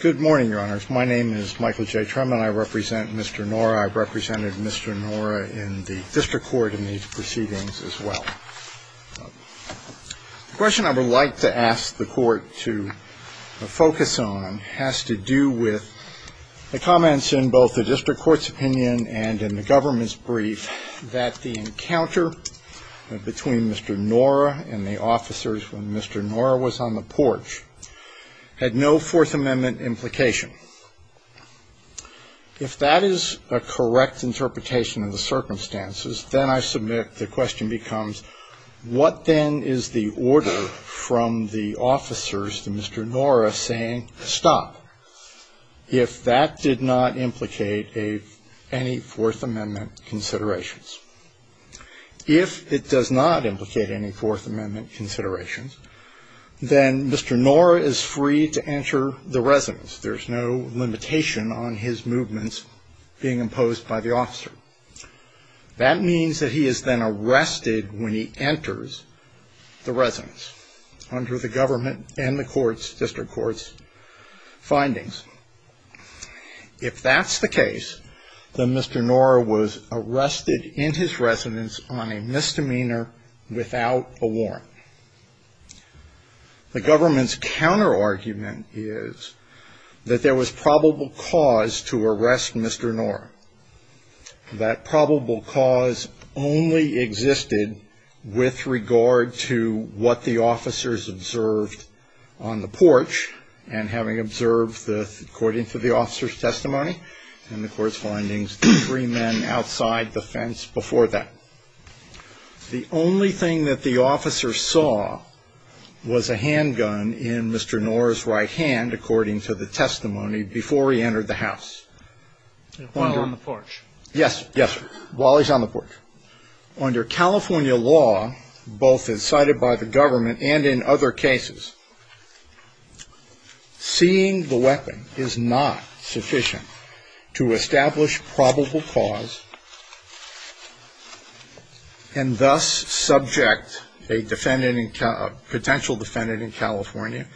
Good morning, your honors. My name is Michael J. Truman. I represent Mr. Nora. I represented Mr. Nora in the district court in these proceedings as well. The question I would like to ask the court to focus on has to do with the comments in both the district court's opinion and in the government's brief that the encounter between Mr. Nora and the officers when Mr. Nora was on the porch had no Fourth Amendment implication. If that is a correct interpretation of the circumstances, then I submit the question becomes, what then is the order from the officers to Mr. Nora saying, stop, if that did not implicate any Fourth Amendment considerations? If it does not implicate any Fourth Amendment considerations, then Mr. Nora is free to enter the residence. There's no limitation on his movements being imposed by the officer. That means that he is then arrested when he enters the residence under the government and the court's, district court's findings. If that's the case, then Mr. Nora was arrested in his residence on a misdemeanor without a warrant. The government's counterargument is that there was probable cause to arrest Mr. Nora. That probable cause only existed with regard to what the officers observed on the porch and having observed, according to the officers' testimony and the court's findings, the three men outside the fence before that. The only thing that the officers saw was a handgun in Mr. Nora's right hand, according to the testimony, before he entered the house. While on the porch. Yes, yes, while he's on the porch. Under California law, both as cited by the government and in other cases, seeing the weapon is not sufficient to establish probable cause and thus subject a defendant, a potential defendant in California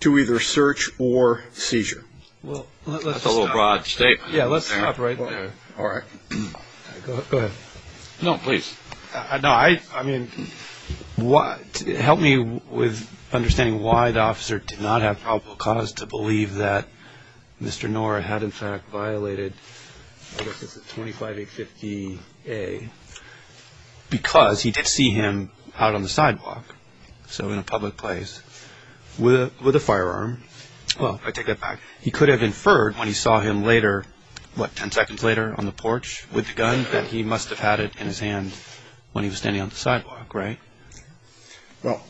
to either search or seizure. Well, that's a little broad statement. Yeah, let's stop right there. All right. Go ahead. No, please. No, I mean, help me with understanding why the officer did not have probable cause to believe that Mr. Nora had in fact violated, I guess it's a 25850A, because he did see him out on the sidewalk, so in a public place, with a firearm. Well, I take that back. He could have inferred when he saw him later, what, 10 seconds later on the porch with the gun, that he must have had it in his hand when he was standing on the sidewalk, right? Well,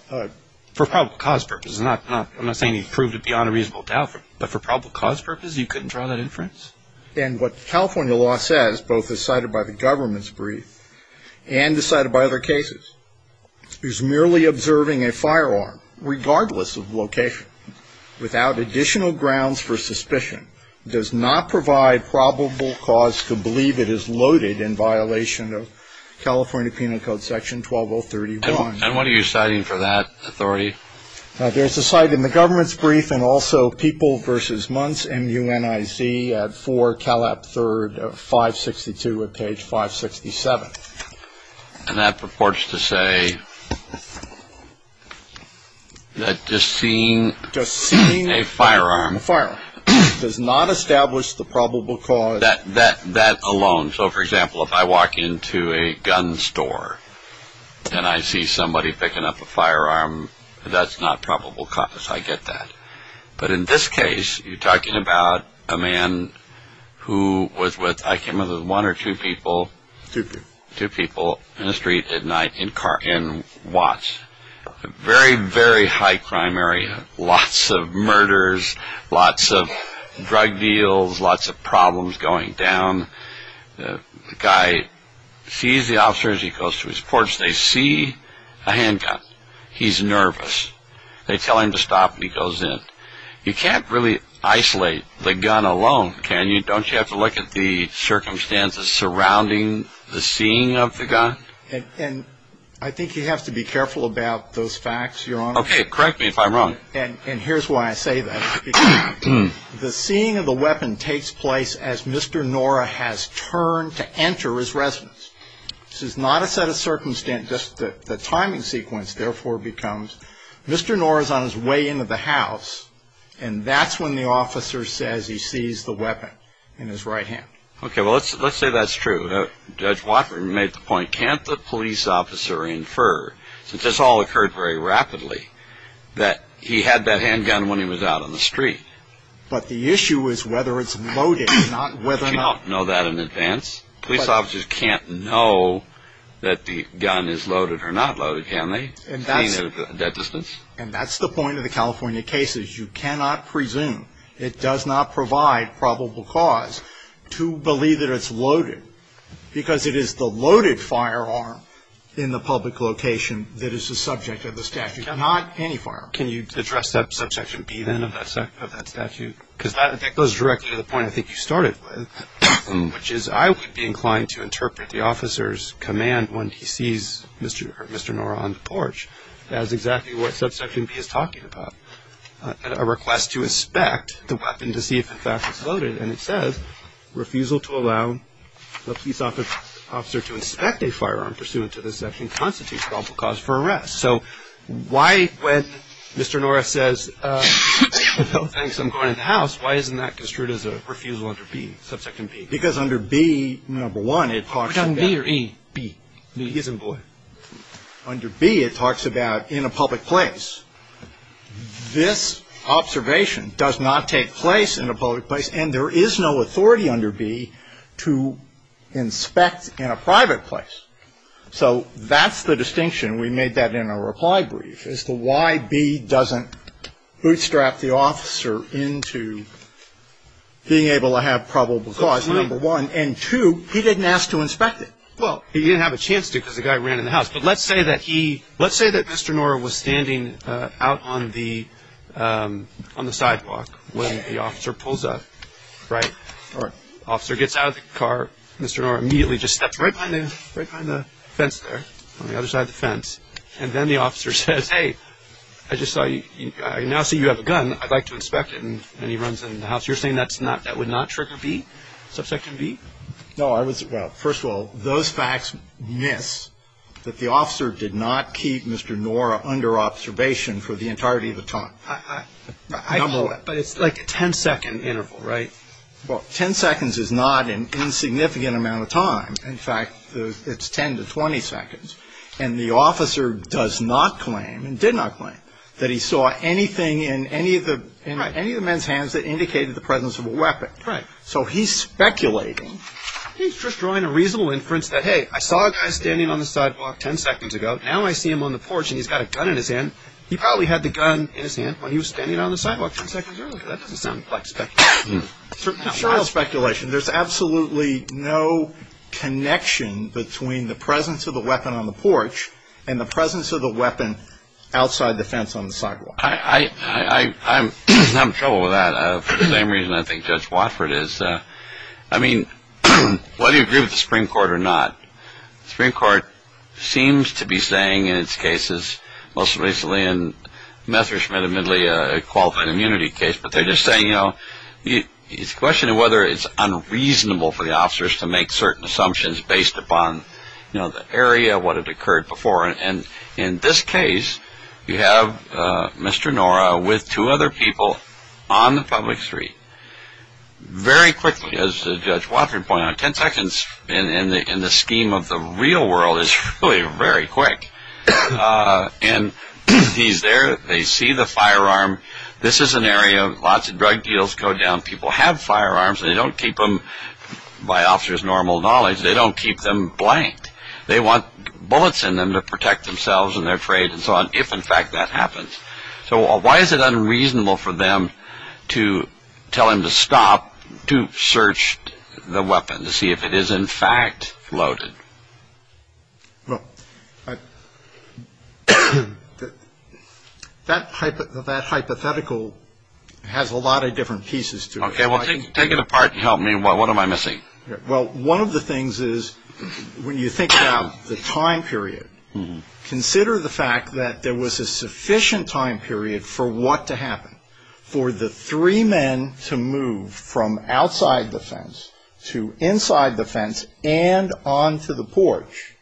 for probable cause purposes. I'm not saying he proved it beyond a reasonable doubt, but for probable cause purposes, he couldn't draw that inference? And what California law says, both as cited by the government's brief and as cited by other cases, is merely observing a firearm, regardless of location, without additional grounds for suspicion, does not provide probable cause to believe it is loaded in violation of California Penal Code Section 12031. And what are you citing for that authority? There's a cite in the government's brief and also People v. Muntz, M-U-N-I-Z, at 4 Calab 3rd, 562 at page 567. And that purports to say that just seeing a firearm does not establish the probable cause? That alone. So, for example, if I walk into a gun store and I see somebody picking up a firearm, that's not probable cause. I get that. But in this case, you're talking about a man who was with, I can't remember, one or two people. Two people. Two people in a street at night in Watts. Very, very high crime area. Lots of murders. Lots of drug deals. Lots of problems going down. The guy sees the officer as he goes to his porch. They see a handgun. He's nervous. They tell him to stop and he goes in. You can't really isolate the gun alone, can you? Don't you have to look at the circumstances surrounding the seeing of the gun? And I think you have to be careful about those facts, Your Honor. Okay. Correct me if I'm wrong. And here's why I say that. The seeing of the weapon takes place as Mr. Nora has turned to enter his residence. This is not a set of circumstances. The timing sequence, therefore, becomes Mr. Nora's on his way into the house, and that's when the officer says he sees the weapon in his right hand. Okay. Well, let's say that's true. Judge Walker made the point, can't the police officer infer, since this all occurred very rapidly, that he had that handgun when he was out on the street? But the issue is whether it's loaded, not whether or not. You don't know that in advance. Police officers can't know that the gun is loaded or not loaded, can they? And that's the point of the California cases. You cannot presume, it does not provide probable cause to believe that it's loaded, because it is the loaded firearm in the public location that is the subject of the statute, not any firearm. Can you address that Subsection B, then, of that statute? Because that goes directly to the point I think you started with, which is I would be inclined to interpret the officer's command when he sees Mr. Nora on the porch as exactly what Subsection B is talking about. A request to inspect the weapon to see if, in fact, it's loaded, and it says refusal to allow the police officer to inspect a firearm pursuant to this section constitutes probable cause for arrest. So why, when Mr. Nora says, oh, thanks, I'm going in the house, why isn't that construed as a refusal under B, Subsection B? Because under B, number one, it talks about – We're talking B or E? B. B as in boy. Under B, it talks about in a public place. This observation does not take place in a public place, and there is no authority under B to inspect in a private place. So that's the distinction. We made that in our reply brief as to why B doesn't bootstrap the officer into being able to have probable cause, number one. And two, he didn't ask to inspect it. Well, he didn't have a chance to because the guy ran in the house. But let's say that he – let's say that Mr. Nora was standing out on the sidewalk when the officer pulls up, right? The officer gets out of the car. Mr. Nora immediately just steps right behind the fence there, on the other side of the fence. And then the officer says, hey, I just saw you – I now see you have a gun. I'd like to inspect it. And he runs in the house. You're saying that would not trigger B, Subsection B? No, I was – well, first of all, those facts miss that the officer did not keep Mr. Nora under observation for the entirety of the time. Number one. But it's like a 10-second interval, right? Well, 10 seconds is not an insignificant amount of time. In fact, it's 10 to 20 seconds. And the officer does not claim, and did not claim, that he saw anything in any of the men's hands that indicated the presence of a weapon. Right. So he's speculating. He's just drawing a reasonable inference that, hey, I saw a guy standing on the sidewalk 10 seconds ago. Now I see him on the porch and he's got a gun in his hand. He probably had the gun in his hand when he was standing on the sidewalk 10 seconds earlier. That doesn't sound like speculation. It's not speculation. There's absolutely no connection between the presence of the weapon on the porch and the presence of the weapon outside the fence on the sidewalk. I'm in trouble with that. For the same reason I think Judge Watford is. I mean, whether you agree with the Supreme Court or not, the Supreme Court seems to be saying in its cases, most recently in Metherschmidt, admittedly, a qualified immunity case, but they're just saying, you know, it's a question of whether it's unreasonable for the officers to make certain assumptions based upon, you know, the area, what had occurred before. And in this case, you have Mr. Nora with two other people on the public street. Very quickly, as Judge Watford pointed out, 10 seconds in the scheme of the real world is really very quick. And he's there. They see the firearm. This is an area lots of drug deals go down. People have firearms and they don't keep them, by officers' normal knowledge, they don't keep them blank. They want bullets in them to protect themselves and their trade and so on if, in fact, that happens. So why is it unreasonable for them to tell him to stop to search the weapon, to see if it is, in fact, loaded? Well, that hypothetical has a lot of different pieces to it. Okay, well, take it apart and help me. What am I missing? Well, one of the things is when you think about the time period, consider the fact that there was a sufficient time period for what to happen, for the three men to move from outside the fence to inside the fence and onto the porch.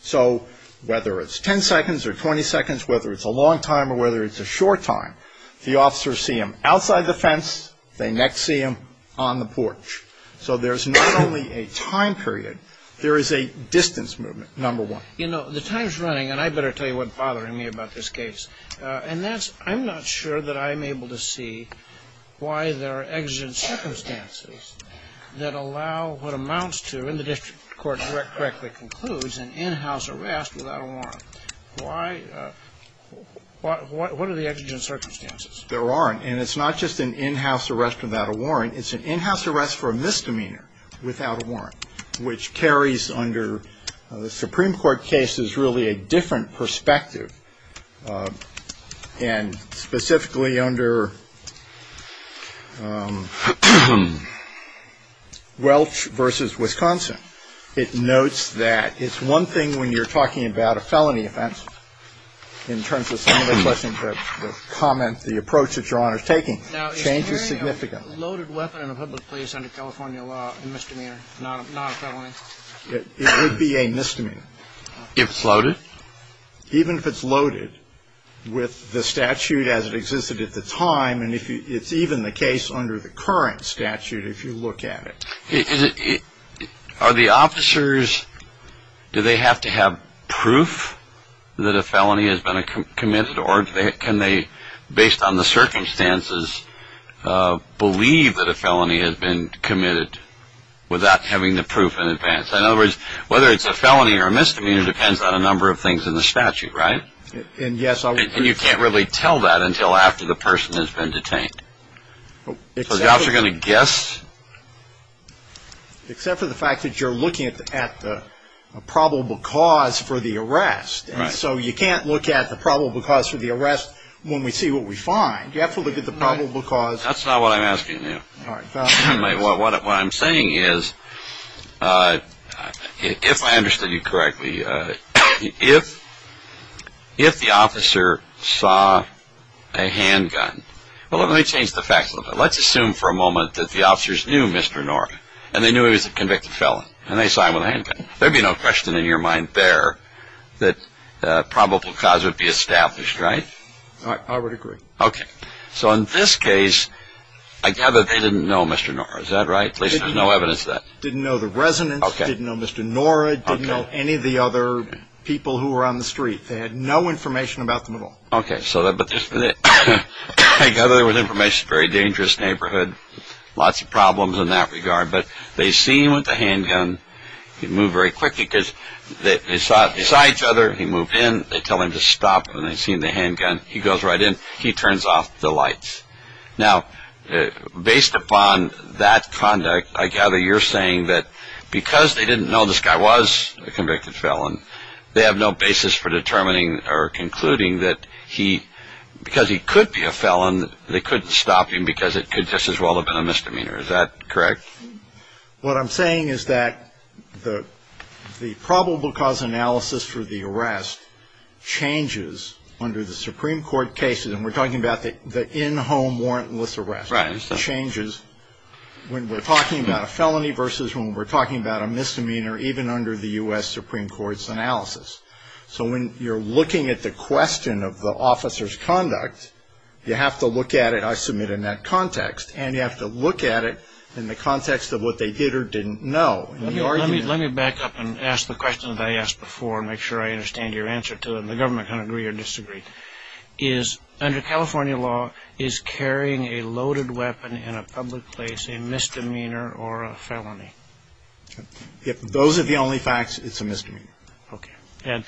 So whether it's 10 seconds or 20 seconds, whether it's a long time or whether it's a short time, the officers see them outside the fence, they next see them on the porch. So there's not only a time period, there is a distance movement, number one. You know, the time's running, and I better tell you what's bothering me about this case, and that's I'm not sure that I'm able to see why there are exigent circumstances that allow what amounts to, and the district court correctly concludes, an in-house arrest without a warrant. Why? What are the exigent circumstances? There aren't. And it's not just an in-house arrest without a warrant. It's an in-house arrest for a misdemeanor without a warrant, which carries under the Supreme Court case is really a different perspective, and specifically under Welch v. Wisconsin. It notes that it's one thing when you're talking about a felony offense, in terms of some of the questions, the comment, the approach that Your Honor is taking. It changes significantly. Now, is carrying a loaded weapon in a public place under California law a misdemeanor, not a felony? It would be a misdemeanor. If it's loaded? Even if it's loaded with the statute as it existed at the time, and it's even the case under the current statute if you look at it. Are the officers, do they have to have proof that a felony has been committed, or can they, based on the circumstances, believe that a felony has been committed without having the proof in advance? In other words, whether it's a felony or a misdemeanor depends on a number of things in the statute, right? And you can't really tell that until after the person has been detained. So the officers are going to guess? Except for the fact that you're looking at the probable cause for the arrest. And so you can't look at the probable cause for the arrest when we see what we find. You have to look at the probable cause. That's not what I'm asking you. All right. What I'm saying is, if I understood you correctly, if the officer saw a handgun, well, let me change the facts a little bit. Let's assume for a moment that the officers knew Mr. Nork, and they knew he was a convicted felon, and they saw him with a handgun. There would be no question in your mind there that a probable cause would be established, right? I would agree. Okay. So in this case, I gather they didn't know Mr. Nork. Is that right? At least there's no evidence of that. Didn't know the residents. Okay. Didn't know Mr. Nork. Okay. Didn't know any of the other people who were on the street. They had no information about them at all. Okay. I gather there was information. It's a very dangerous neighborhood, lots of problems in that regard. But they see him with a handgun. He moved very quickly because they saw each other. He moved in. They tell him to stop, and they see him with a handgun. He goes right in. He turns off the lights. Now, based upon that conduct, I gather you're saying that because they didn't know this guy was a convicted felon, they have no basis for determining or concluding that he, because he could be a felon, they couldn't stop him because it could just as well have been a misdemeanor. Is that correct? What I'm saying is that the probable cause analysis for the arrest changes under the Supreme Court cases, and we're talking about the in-home warrantless arrest. Right. It changes when we're talking about a felony versus when we're talking about a misdemeanor, even under the U.S. Supreme Court's analysis. So when you're looking at the question of the officer's conduct, you have to look at it, and you have to look at it in the context of what they did or didn't know. Let me back up and ask the question that I asked before and make sure I understand your answer to it, and the government can agree or disagree. Is, under California law, is carrying a loaded weapon in a public place a misdemeanor or a felony? If those are the only facts, it's a misdemeanor. Okay. And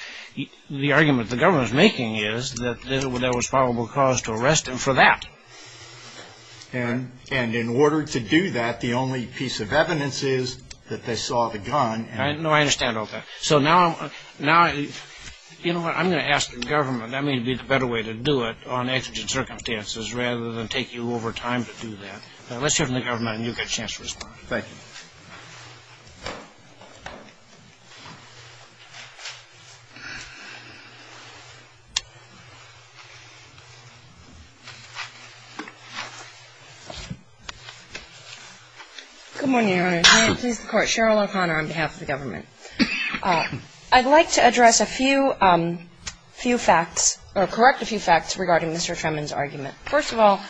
the argument the government is making is that there was probable cause to arrest him for that. And in order to do that, the only piece of evidence is that they saw the gun. No, I understand all that. So now I'm going to ask the government, that may be the better way to do it on exigent circumstances rather than take you over time to do that. Let's hear from the government and you'll get a chance to respond. Thank you. Good morning, Your Honor. May it please the Court. Cheryl O'Connor on behalf of the government. I'd like to address a few facts or correct a few facts regarding Mr. Tremon's argument. First of all,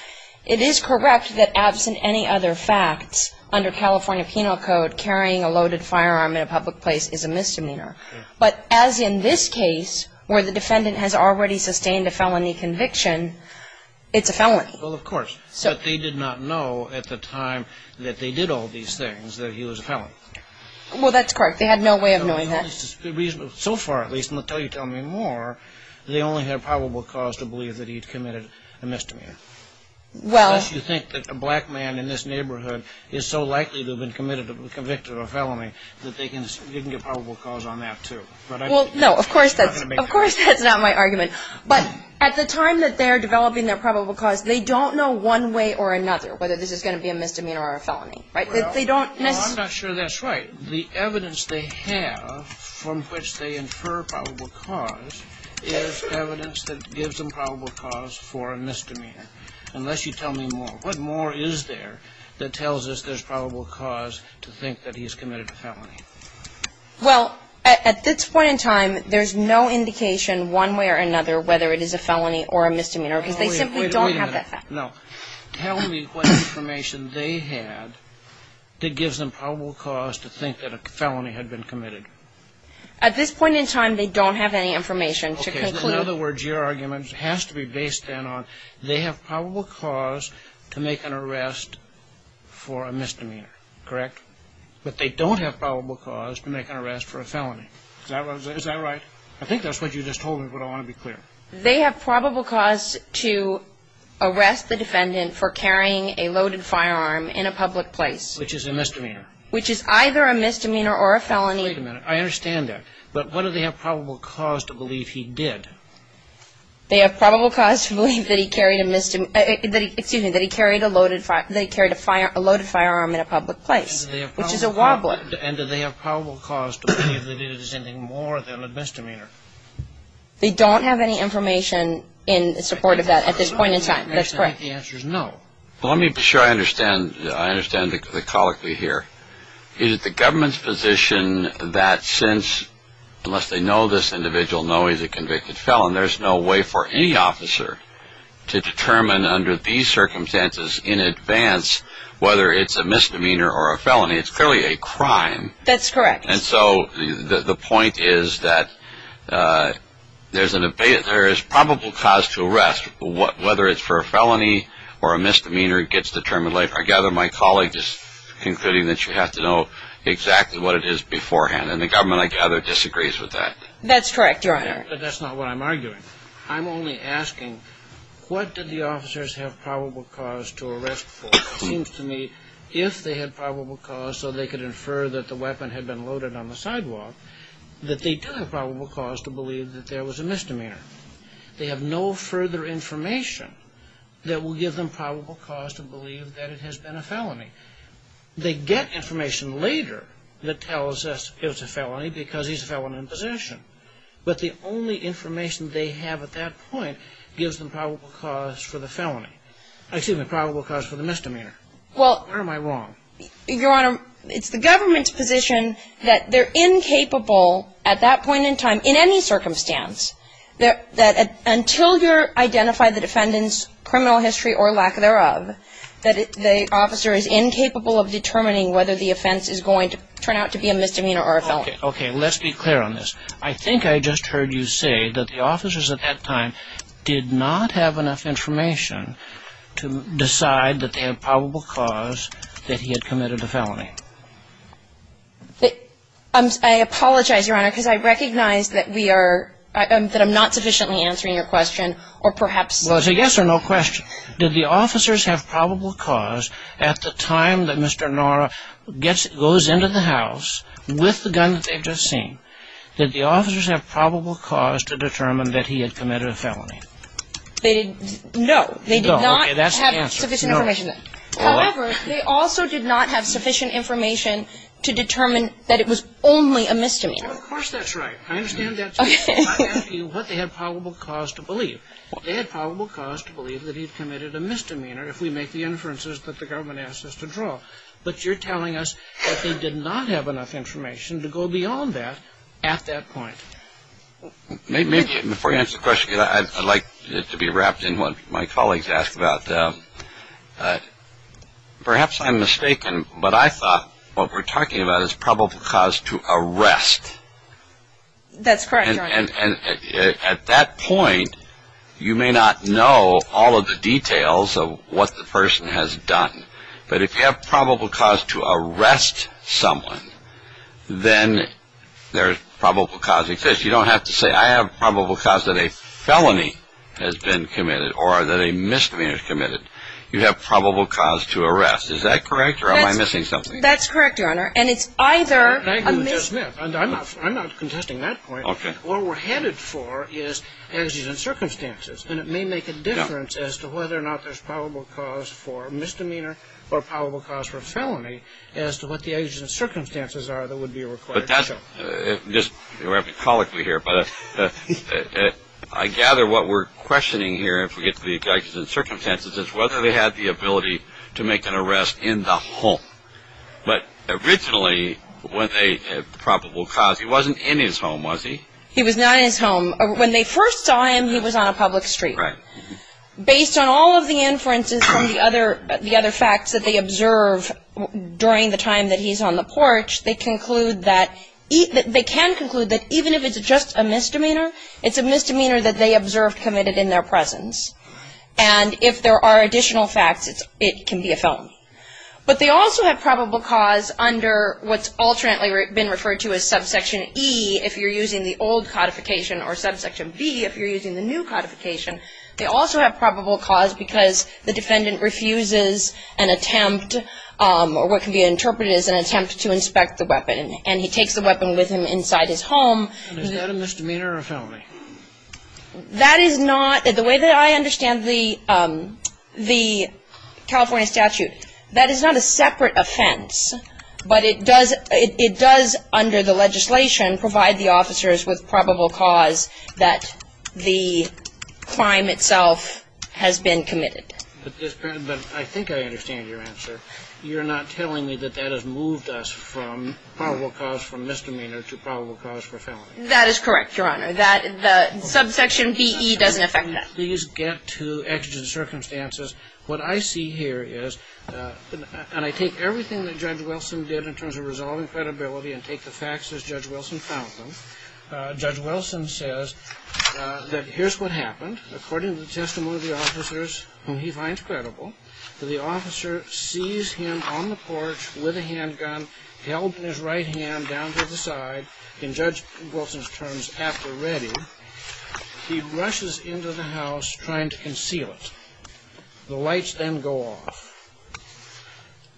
it is correct that, absent any other facts, under California Penal Code carrying a loaded firearm in a public place is a misdemeanor. But as in this case, where the defendant has already sustained a felony conviction, it's a felony. Well, of course. But they did not know at the time that they did all these things that he was a felony. Well, that's correct. They had no way of knowing that. So far, at least, until you tell me more, they only had probable cause to believe that he'd committed a misdemeanor. Unless you think that a black man in this neighborhood is so likely to have been convicted of a felony that they can get probable cause on that, too. Well, no, of course that's not my argument. But at the time that they're developing their probable cause, they don't know one way or another whether this is going to be a misdemeanor or a felony. Well, I'm not sure that's right. The evidence they have from which they infer probable cause is evidence that gives them probable cause for a misdemeanor. Unless you tell me more. What more is there that tells us there's probable cause to think that he's committed a felony? Well, at this point in time, there's no indication one way or another whether it is a felony or a misdemeanor because they simply don't have that fact. Wait a minute. No. Tell me what information they had that gives them probable cause to think that a felony had been committed. At this point in time, they don't have any information to conclude. Okay. In other words, your argument has to be based then on They have probable cause to make an arrest for a misdemeanor. Correct? But they don't have probable cause to make an arrest for a felony. Is that right? I think that's what you just told me, but I want to be clear. They have probable cause to arrest the defendant for carrying a loaded firearm in a public place. Which is a misdemeanor. Which is either a misdemeanor or a felony. Wait a minute. I understand that. But what do they have probable cause to believe he did? They have probable cause to believe that he carried a loaded firearm in a public place. Which is a wobble. And do they have probable cause to believe that he did something more than a misdemeanor? They don't have any information in support of that at this point in time. That's correct. The answer is no. Let me be sure I understand the colloquy here. Is it the government's position that since, unless they know this individual, know he's a convicted felon, there's no way for any officer to determine under these circumstances in advance whether it's a misdemeanor or a felony. It's clearly a crime. That's correct. And so the point is that there is probable cause to arrest. Whether it's for a felony or a misdemeanor gets determined later. I gather my colleague is concluding that you have to know exactly what it is beforehand. And the government, I gather, disagrees with that. That's correct, Your Honor. But that's not what I'm arguing. I'm only asking what did the officers have probable cause to arrest for? It seems to me if they had probable cause so they could infer that the weapon had been loaded on the sidewalk, that they do have probable cause to believe that there was a misdemeanor. They have no further information that will give them probable cause to believe that it has been a felony. They get information later that tells us it was a felony because he's a felon in possession. But the only information they have at that point gives them probable cause for the felony. Excuse me, probable cause for the misdemeanor. Well. Or am I wrong? Your Honor, it's the government's position that they're incapable at that point in time in any circumstance, that until you identify the defendant's criminal history or lack thereof, that the officer is incapable of determining whether the offense is going to turn out to be a misdemeanor or a felony. Okay. Let's be clear on this. I think I just heard you say that the officers at that time did not have enough information to decide I apologize, Your Honor, because I recognize that we are, that I'm not sufficiently answering your question or perhaps. Well, it's a yes or no question. Did the officers have probable cause at the time that Mr. Nara gets, goes into the house with the gun that they've just seen, did the officers have probable cause to determine that he had committed a felony? They, no. No, okay, that's the answer. They did not have sufficient information. to determine that it was only a misdemeanor. Well, of course that's right. I understand that. Okay. I'm asking you what they had probable cause to believe. They had probable cause to believe that he had committed a misdemeanor if we make the inferences that the government asked us to draw. But you're telling us that they did not have enough information to go beyond that at that point. Before you answer the question, I'd like it to be wrapped in what my colleagues asked about. And perhaps I'm mistaken, but I thought what we're talking about is probable cause to arrest. That's correct, Your Honor. And at that point, you may not know all of the details of what the person has done. But if you have probable cause to arrest someone, then there's probable cause exists. You don't have to say I have probable cause that a felony has been committed or that a misdemeanor has been committed. You have probable cause to arrest. Is that correct or am I missing something? That's correct, Your Honor. And it's either a misdemeanor. I'm not contesting that point. Okay. What we're headed for is agencies and circumstances. And it may make a difference as to whether or not there's probable cause for misdemeanor or probable cause for a felony as to what the agencies and circumstances are that would be required to show. You're having to colloquy here, but I gather what we're questioning here, if we get to the agencies and circumstances, is whether they had the ability to make an arrest in the home. But originally, when they had probable cause, he wasn't in his home, was he? He was not in his home. When they first saw him, he was on a public street. Right. Based on all of the inferences from the other facts that they observe during the time that he's on the porch, they can conclude that even if it's just a misdemeanor, it's a misdemeanor that they observed committed in their presence. And if there are additional facts, it can be a felony. But they also have probable cause under what's alternately been referred to as subsection E if you're using the old codification or subsection B if you're using the new codification. They also have probable cause because the defendant refuses an attempt or what can be interpreted as an attempt to inspect the weapon, and he takes the weapon with him inside his home. And is that a misdemeanor or a felony? That is not, the way that I understand the California statute, that is not a separate offense, but it does under the legislation provide the officers with probable cause that the crime itself has been committed. But I think I understand your answer. You're not telling me that that has moved us from probable cause for misdemeanor to probable cause for felony. That is correct, Your Honor. The subsection BE doesn't affect that. Can we please get to extra circumstances? What I see here is, and I take everything that Judge Wilson did in terms of resolving credibility and take the facts as Judge Wilson found them. Judge Wilson says that here's what happened. According to the testimony of the officers whom he finds credible, the officer sees him on the porch with a handgun held in his right hand down to the side. In Judge Wilson's terms, after ready, he rushes into the house trying to conceal it. The lights then go off.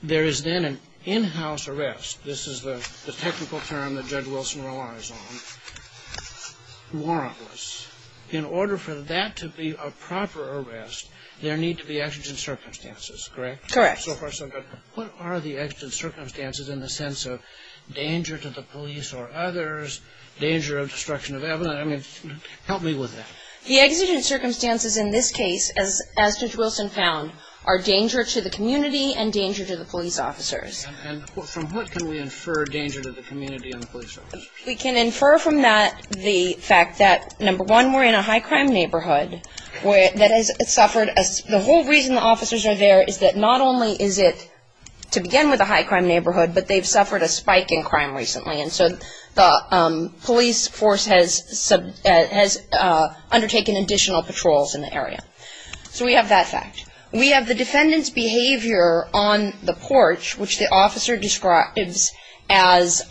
There is then an in-house arrest. This is the technical term that Judge Wilson relies on. Warrantless. In order for that to be a proper arrest, there need to be exigent circumstances, correct? Correct. So far so good. What are the exigent circumstances in the sense of danger to the police or others, danger of destruction of evidence? I mean, help me with that. The exigent circumstances in this case, as Judge Wilson found, are danger to the community and danger to the police officers. And from what can we infer danger to the community and the police officers? We can infer from that the fact that, number one, we're in a high-crime neighborhood that has suffered. The whole reason the officers are there is that not only is it, to begin with, a high-crime neighborhood, but they've suffered a spike in crime recently. And so the police force has undertaken additional patrols in the area. So we have that fact. We have the defendant's behavior on the porch, which the officer describes as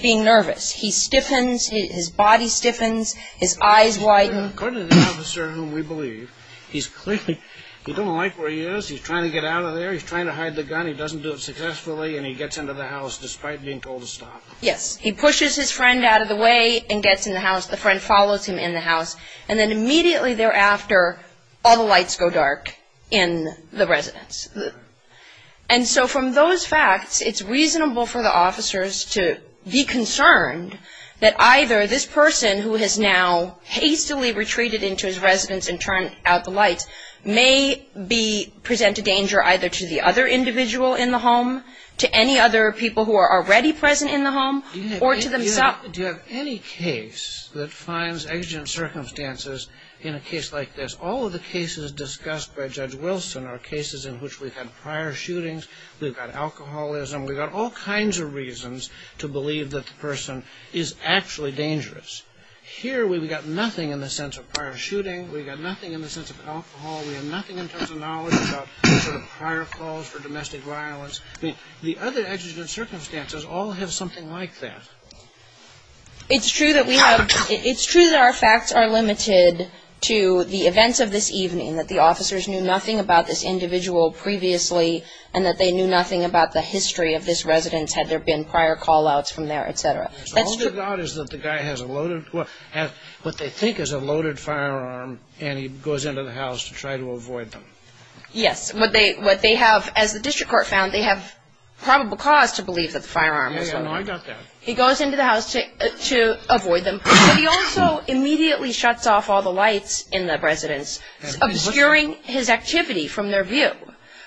being nervous. He stiffens. His body stiffens. His eyes widen. According to the officer, whom we believe, he's clearly, he doesn't like where he is. He's trying to get out of there. He's trying to hide the gun. He doesn't do it successfully, and he gets into the house despite being told to stop. Yes. He pushes his friend out of the way and gets in the house. The friend follows him in the house. And then immediately thereafter, all the lights go dark in the residence. And so from those facts, it's reasonable for the officers to be concerned that either this person, who has now hastily retreated into his residence and turned out the lights, may present a danger either to the other individual in the home, to any other people who are already present in the home, or to themselves. Do you have any case that finds exigent circumstances in a case like this? All of the cases discussed by Judge Wilson are cases in which we've had prior shootings. We've got alcoholism. We've got all kinds of reasons to believe that the person is actually dangerous. Here, we've got nothing in the sense of prior shooting. We've got nothing in the sense of alcohol. We have nothing in terms of knowledge about prior calls for domestic violence. The other exigent circumstances all have something like that. It's true that we have – it's true that our facts are limited to the events of this evening, that the officers knew nothing about this individual previously, and that they knew nothing about the history of this residence, had there been prior call-outs from there, et cetera. All they've got is that the guy has a loaded – what they think is a loaded firearm, and he goes into the house to try to avoid them. Yes. What they have – as the district court found, they have probable cause to believe that the firearm was loaded. I got that. He goes into the house to avoid them, but he also immediately shuts off all the lights in the residence, obscuring his activity from their view.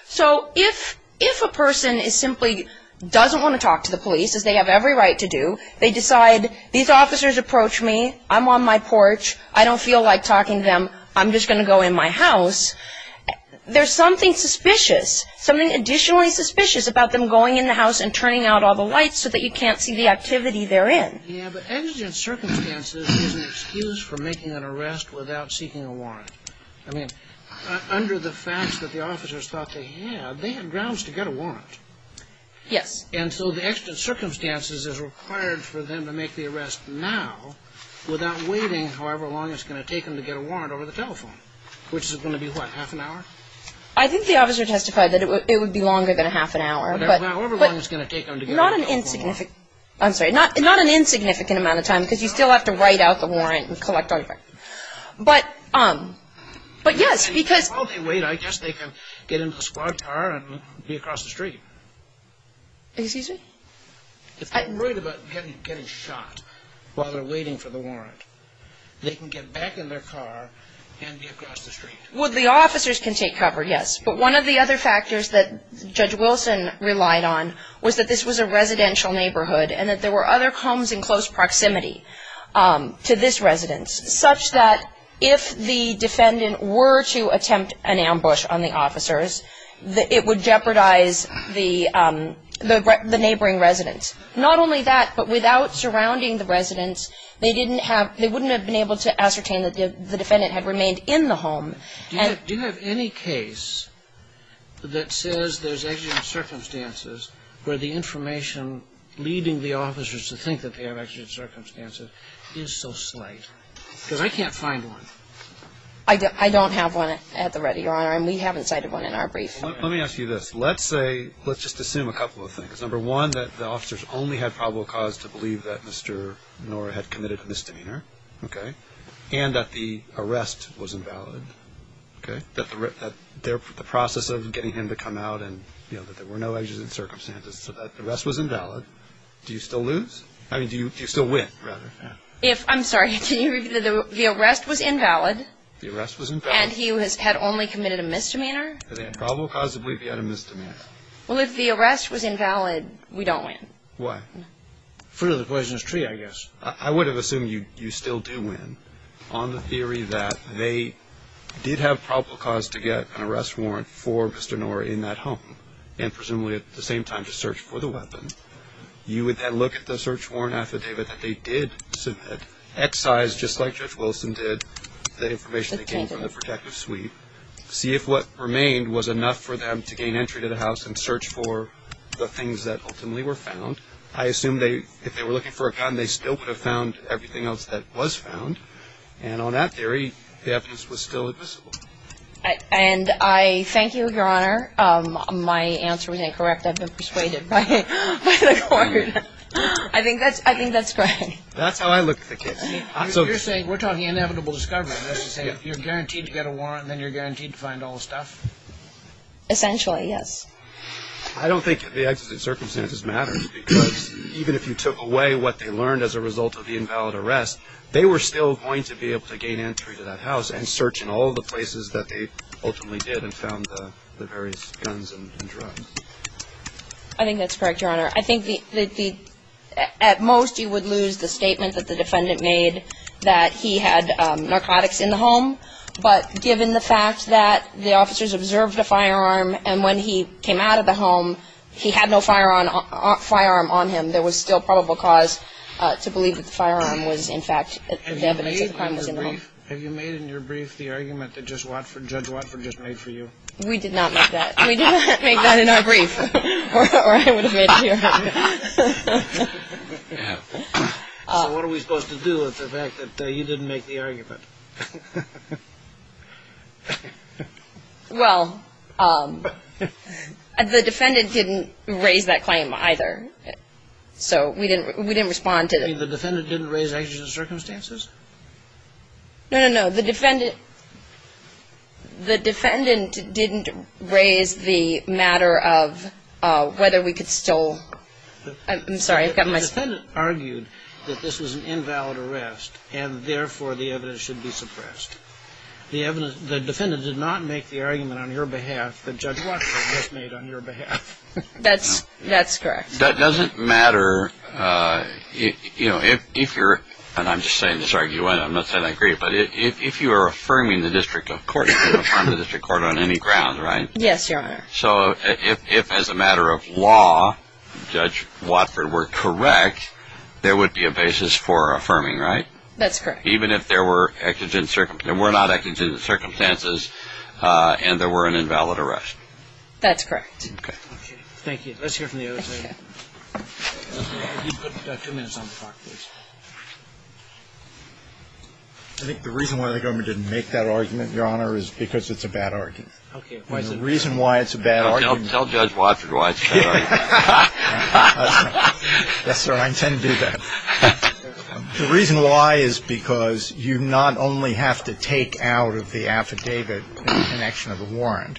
So if a person simply doesn't want to talk to the police, as they have every right to do, they decide, these officers approach me, I'm on my porch, I don't feel like talking to them, I'm just going to go in my house, there's something suspicious, something additionally suspicious about them going in the house and turning out all the lights so that you can't see the activity they're in. Yeah, but exigent circumstances is an excuse for making an arrest without seeking a warrant. I mean, under the facts that the officers thought they had, they had grounds to get a warrant. Yes. And so the exigent circumstances is required for them to make the arrest now without waiting however long it's going to take them to get a warrant over the telephone, which is going to be, what, half an hour? I think the officer testified that it would be longer than a half an hour. However long it's going to take them to get a telephone warrant. I'm sorry, not an insignificant amount of time because you still have to write out the warrant and collect all the paperwork. But yes, because... While they wait, I guess they can get into a squad car and be across the street. Excuse me? If they're worried about getting shot while they're waiting for the warrant, they can get back in their car and be across the street. Well, the officers can take cover, yes. But one of the other factors that Judge Wilson relied on was that this was a residential neighborhood and that there were other homes in close proximity to this residence, such that if the defendant were to attempt an ambush on the officers, it would jeopardize the neighboring residence. Not only that, but without surrounding the residence, they wouldn't have been able to ascertain that the defendant had remained in the home. Do you have any case that says there's exegetic circumstances where the information leading the officers to think that they have exegetic circumstances is so slight? Because I can't find one. I don't have one at the ready, Your Honor, and we haven't cited one in our brief. Let me ask you this. Let's say, let's just assume a couple of things. Number one, that the officers only had probable cause to believe that Mr. Nora had committed a misdemeanor, okay, and that the arrest was invalid, okay, that the process of getting him to come out and, you know, that there were no exegetic circumstances, so that the arrest was invalid. Do you still lose? I mean, do you still win, rather? I'm sorry, can you repeat that? The arrest was invalid. The arrest was invalid. And he had only committed a misdemeanor? He had probable cause to believe he had a misdemeanor. Well, if the arrest was invalid, we don't win. Why? Fruit of the poisonous tree, I guess. I would have assumed you still do win on the theory that they did have probable cause to get an arrest warrant for Mr. Nora in that home and presumably at the same time to search for the weapon. You would then look at the search warrant affidavit that they did submit, excise just like Judge Wilson did, the information that came from the protective suite, see if what remained was enough for them to gain entry to the house and search for the things that ultimately were found. I assume if they were looking for a gun, they still would have found everything else that was found, and on that theory, the evidence was still admissible. And I thank you, Your Honor. My answer was incorrect. I've been persuaded by the court. I think that's correct. That's how I look at the case. You're saying we're talking inevitable discovery. That's to say you're guaranteed to get a warrant and then you're guaranteed to find all the stuff? Essentially, yes. I don't think the executive circumstances matter because even if you took away what they learned as a result of the invalid arrest, they were still going to be able to gain entry to that house and search in all the places that they ultimately did and found the various guns and drugs. I think that's correct, Your Honor. I think that at most you would lose the statement that the defendant made that he had narcotics in the home, but given the fact that the officers observed a firearm and when he came out of the home, he had no firearm on him, there was still probable cause to believe that the firearm was, in fact, the evidence of the crime was in the home. Have you made in your brief the argument that Judge Watford just made for you? We did not make that. We did not make that in our brief or I would have made it here. So what are we supposed to do with the fact that you didn't make the argument? Well, the defendant didn't raise that claim either, so we didn't respond to it. You mean the defendant didn't raise actions and circumstances? No, no, no. The defendant didn't raise the matter of whether we could still ‑‑ I'm sorry. The defendant argued that this was an invalid arrest and, therefore, the evidence should be suppressed. The defendant did not make the argument on your behalf that Judge Watford just made on your behalf. That's correct. That doesn't matter if you're ‑‑ and I'm just saying this argument. I'm not saying I agree. But if you are affirming the district court, you can affirm the district court on any ground, right? Yes, Your Honor. So if, as a matter of law, Judge Watford were correct, there would be a basis for affirming, right? That's correct. Even if there were not exigent circumstances and there were an invalid arrest? That's correct. Okay. Thank you. Let's hear from the other side. You've got two minutes on the clock, please. I think the reason why the government didn't make that argument, Your Honor, is because it's a bad argument. Okay. And the reason why it's a bad argument ‑‑ Tell Judge Watford why it's a bad argument. Yes, sir. I intend to do that. The reason why is because you not only have to take out of the affidavit the connection of the warrant.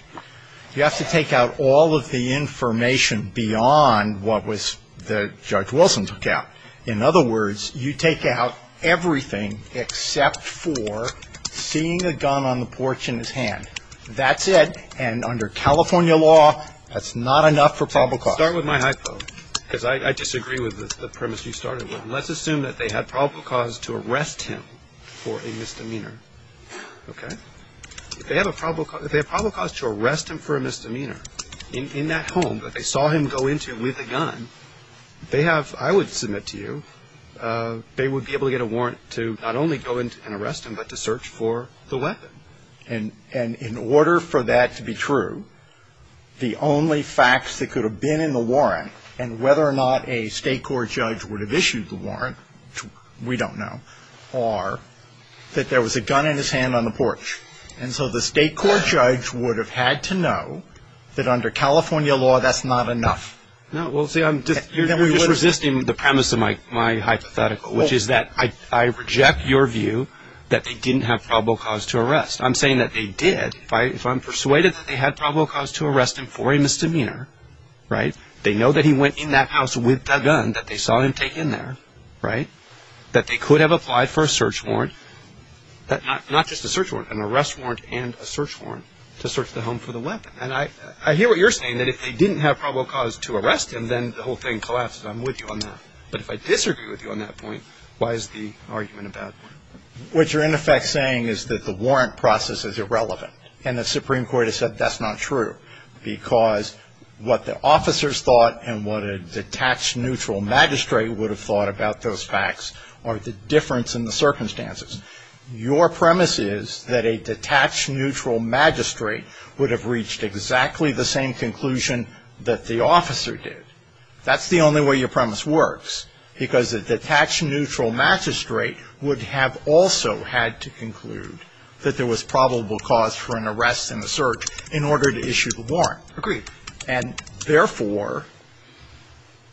You have to take out all of the information beyond what was ‑‑ that Judge Wilson took out. In other words, you take out everything except for seeing a gun on the porch in his hand. That's it. And under California law, that's not enough for probable cause. Start with my hypo, because I disagree with the premise you started with. And let's assume that they had probable cause to arrest him for a misdemeanor. Okay? If they have probable cause to arrest him for a misdemeanor in that home that they saw him go into with a gun, they have ‑‑ I would submit to you they would be able to get a warrant to not only go in and arrest him, but to search for the weapon. And in order for that to be true, the only facts that could have been in the warrant and whether or not a state court judge would have issued the warrant, we don't know, are that there was a gun in his hand on the porch. And so the state court judge would have had to know that under California law, that's not enough. No, well, see, you're just resisting the premise of my hypothetical, which is that I reject your view that they didn't have probable cause to arrest. I'm saying that they did. If I'm persuaded that they had probable cause to arrest him for a misdemeanor, right, they know that he went in that house with a gun that they saw him take in there, right, that they could have applied for a search warrant, not just a search warrant, an arrest warrant and a search warrant to search the home for the weapon. And I hear what you're saying, that if they didn't have probable cause to arrest him, then the whole thing collapses. I'm with you on that. But if I disagree with you on that point, why is the argument a bad one? What you're, in effect, saying is that the warrant process is irrelevant. And the Supreme Court has said that's not true because what the officers thought and what a detached neutral magistrate would have thought about those facts are the difference in the circumstances. Your premise is that a detached neutral magistrate would have reached exactly the same conclusion that the officer did. That's the only way your premise works, because a detached neutral magistrate would have also had to conclude that there was probable cause for an arrest and a search in order to issue the warrant. Agreed. And, therefore,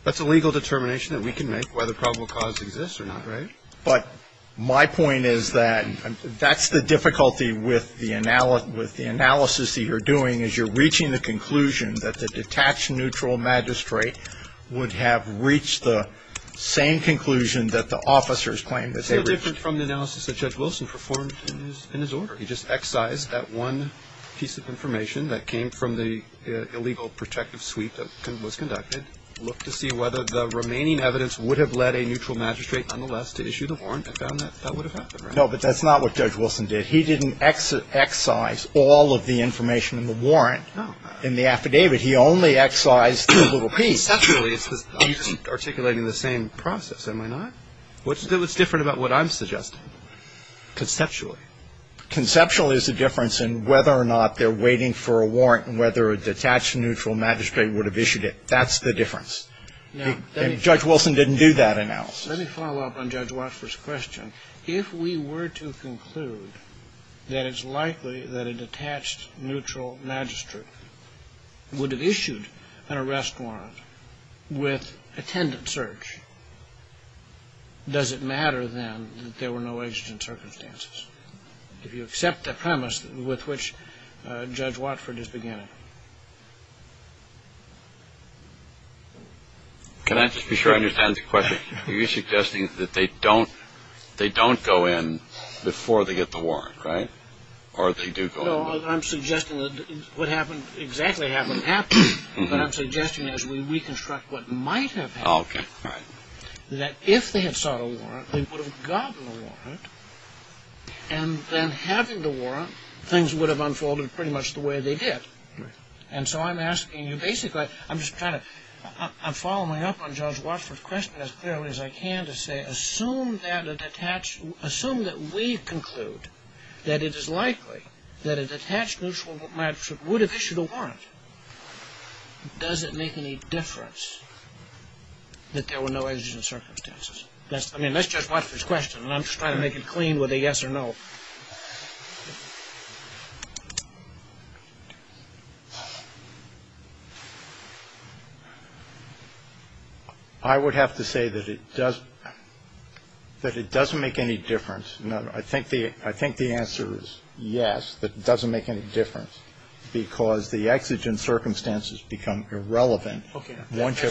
that's a legal determination that we can make whether probable cause exists or not, right? But my point is that that's the difficulty with the analysis that you're doing, is you're reaching the conclusion that the detached neutral magistrate would have reached the same conclusion that the officers claimed that they reached. It's no different from the analysis that Judge Wilson performed in his order. He just excised that one piece of information that came from the illegal protective suite that was conducted, looked to see whether the remaining evidence would have led a neutral magistrate, nonetheless, to issue the warrant, and found that that would have happened, right? No, but that's not what Judge Wilson did. He didn't excise all of the information in the warrant in the affidavit. He only excised the little piece. Conceptually, it's because I'm articulating the same process, am I not? What's different about what I'm suggesting? Conceptually. Conceptually, it's the difference in whether or not they're waiting for a warrant and whether a detached neutral magistrate would have issued it. That's the difference. And Judge Wilson didn't do that analysis. Let me follow up on Judge Watford's question. If we were to conclude that it's likely that a detached neutral magistrate would have issued an arrest warrant with attendant search, does it matter, then, that there were no agent circumstances? If you accept the premise with which Judge Watford is beginning. Can I just be sure I understand the question? Are you suggesting that they don't go in before they get the warrant, right, or they do go in? No, I'm suggesting that what happened exactly happened after. But I'm suggesting as we reconstruct what might have happened, that if they had sought a warrant, they would have gotten a warrant, and then having the warrant, things would have unfolded pretty much the way they did. And so I'm asking you basically, I'm just trying to, I'm following up on Judge Watford's question as clearly as I can to say, Assume that we conclude that it is likely that a detached neutral magistrate would have issued a warrant. Does it make any difference that there were no agent circumstances? I mean, that's Judge Watford's question, and I'm just trying to make it clean with a yes or no. I would have to say that it does, that it doesn't make any difference. I think the answer is yes, that it doesn't make any difference, because the exigent circumstances become irrelevant once you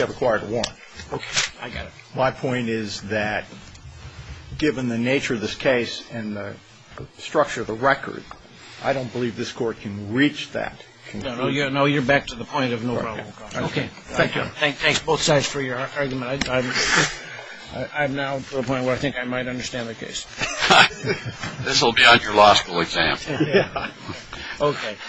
have acquired a warrant. Okay, I got it. My point is that given the nature of this case and the structure of the record, I don't believe this Court can reach that conclusion. No, you're back to the point of no problem. Okay, thank you. Thanks both sides for your argument. I'm now to a point where I think I might understand the case. This will be on your law school exam. Okay.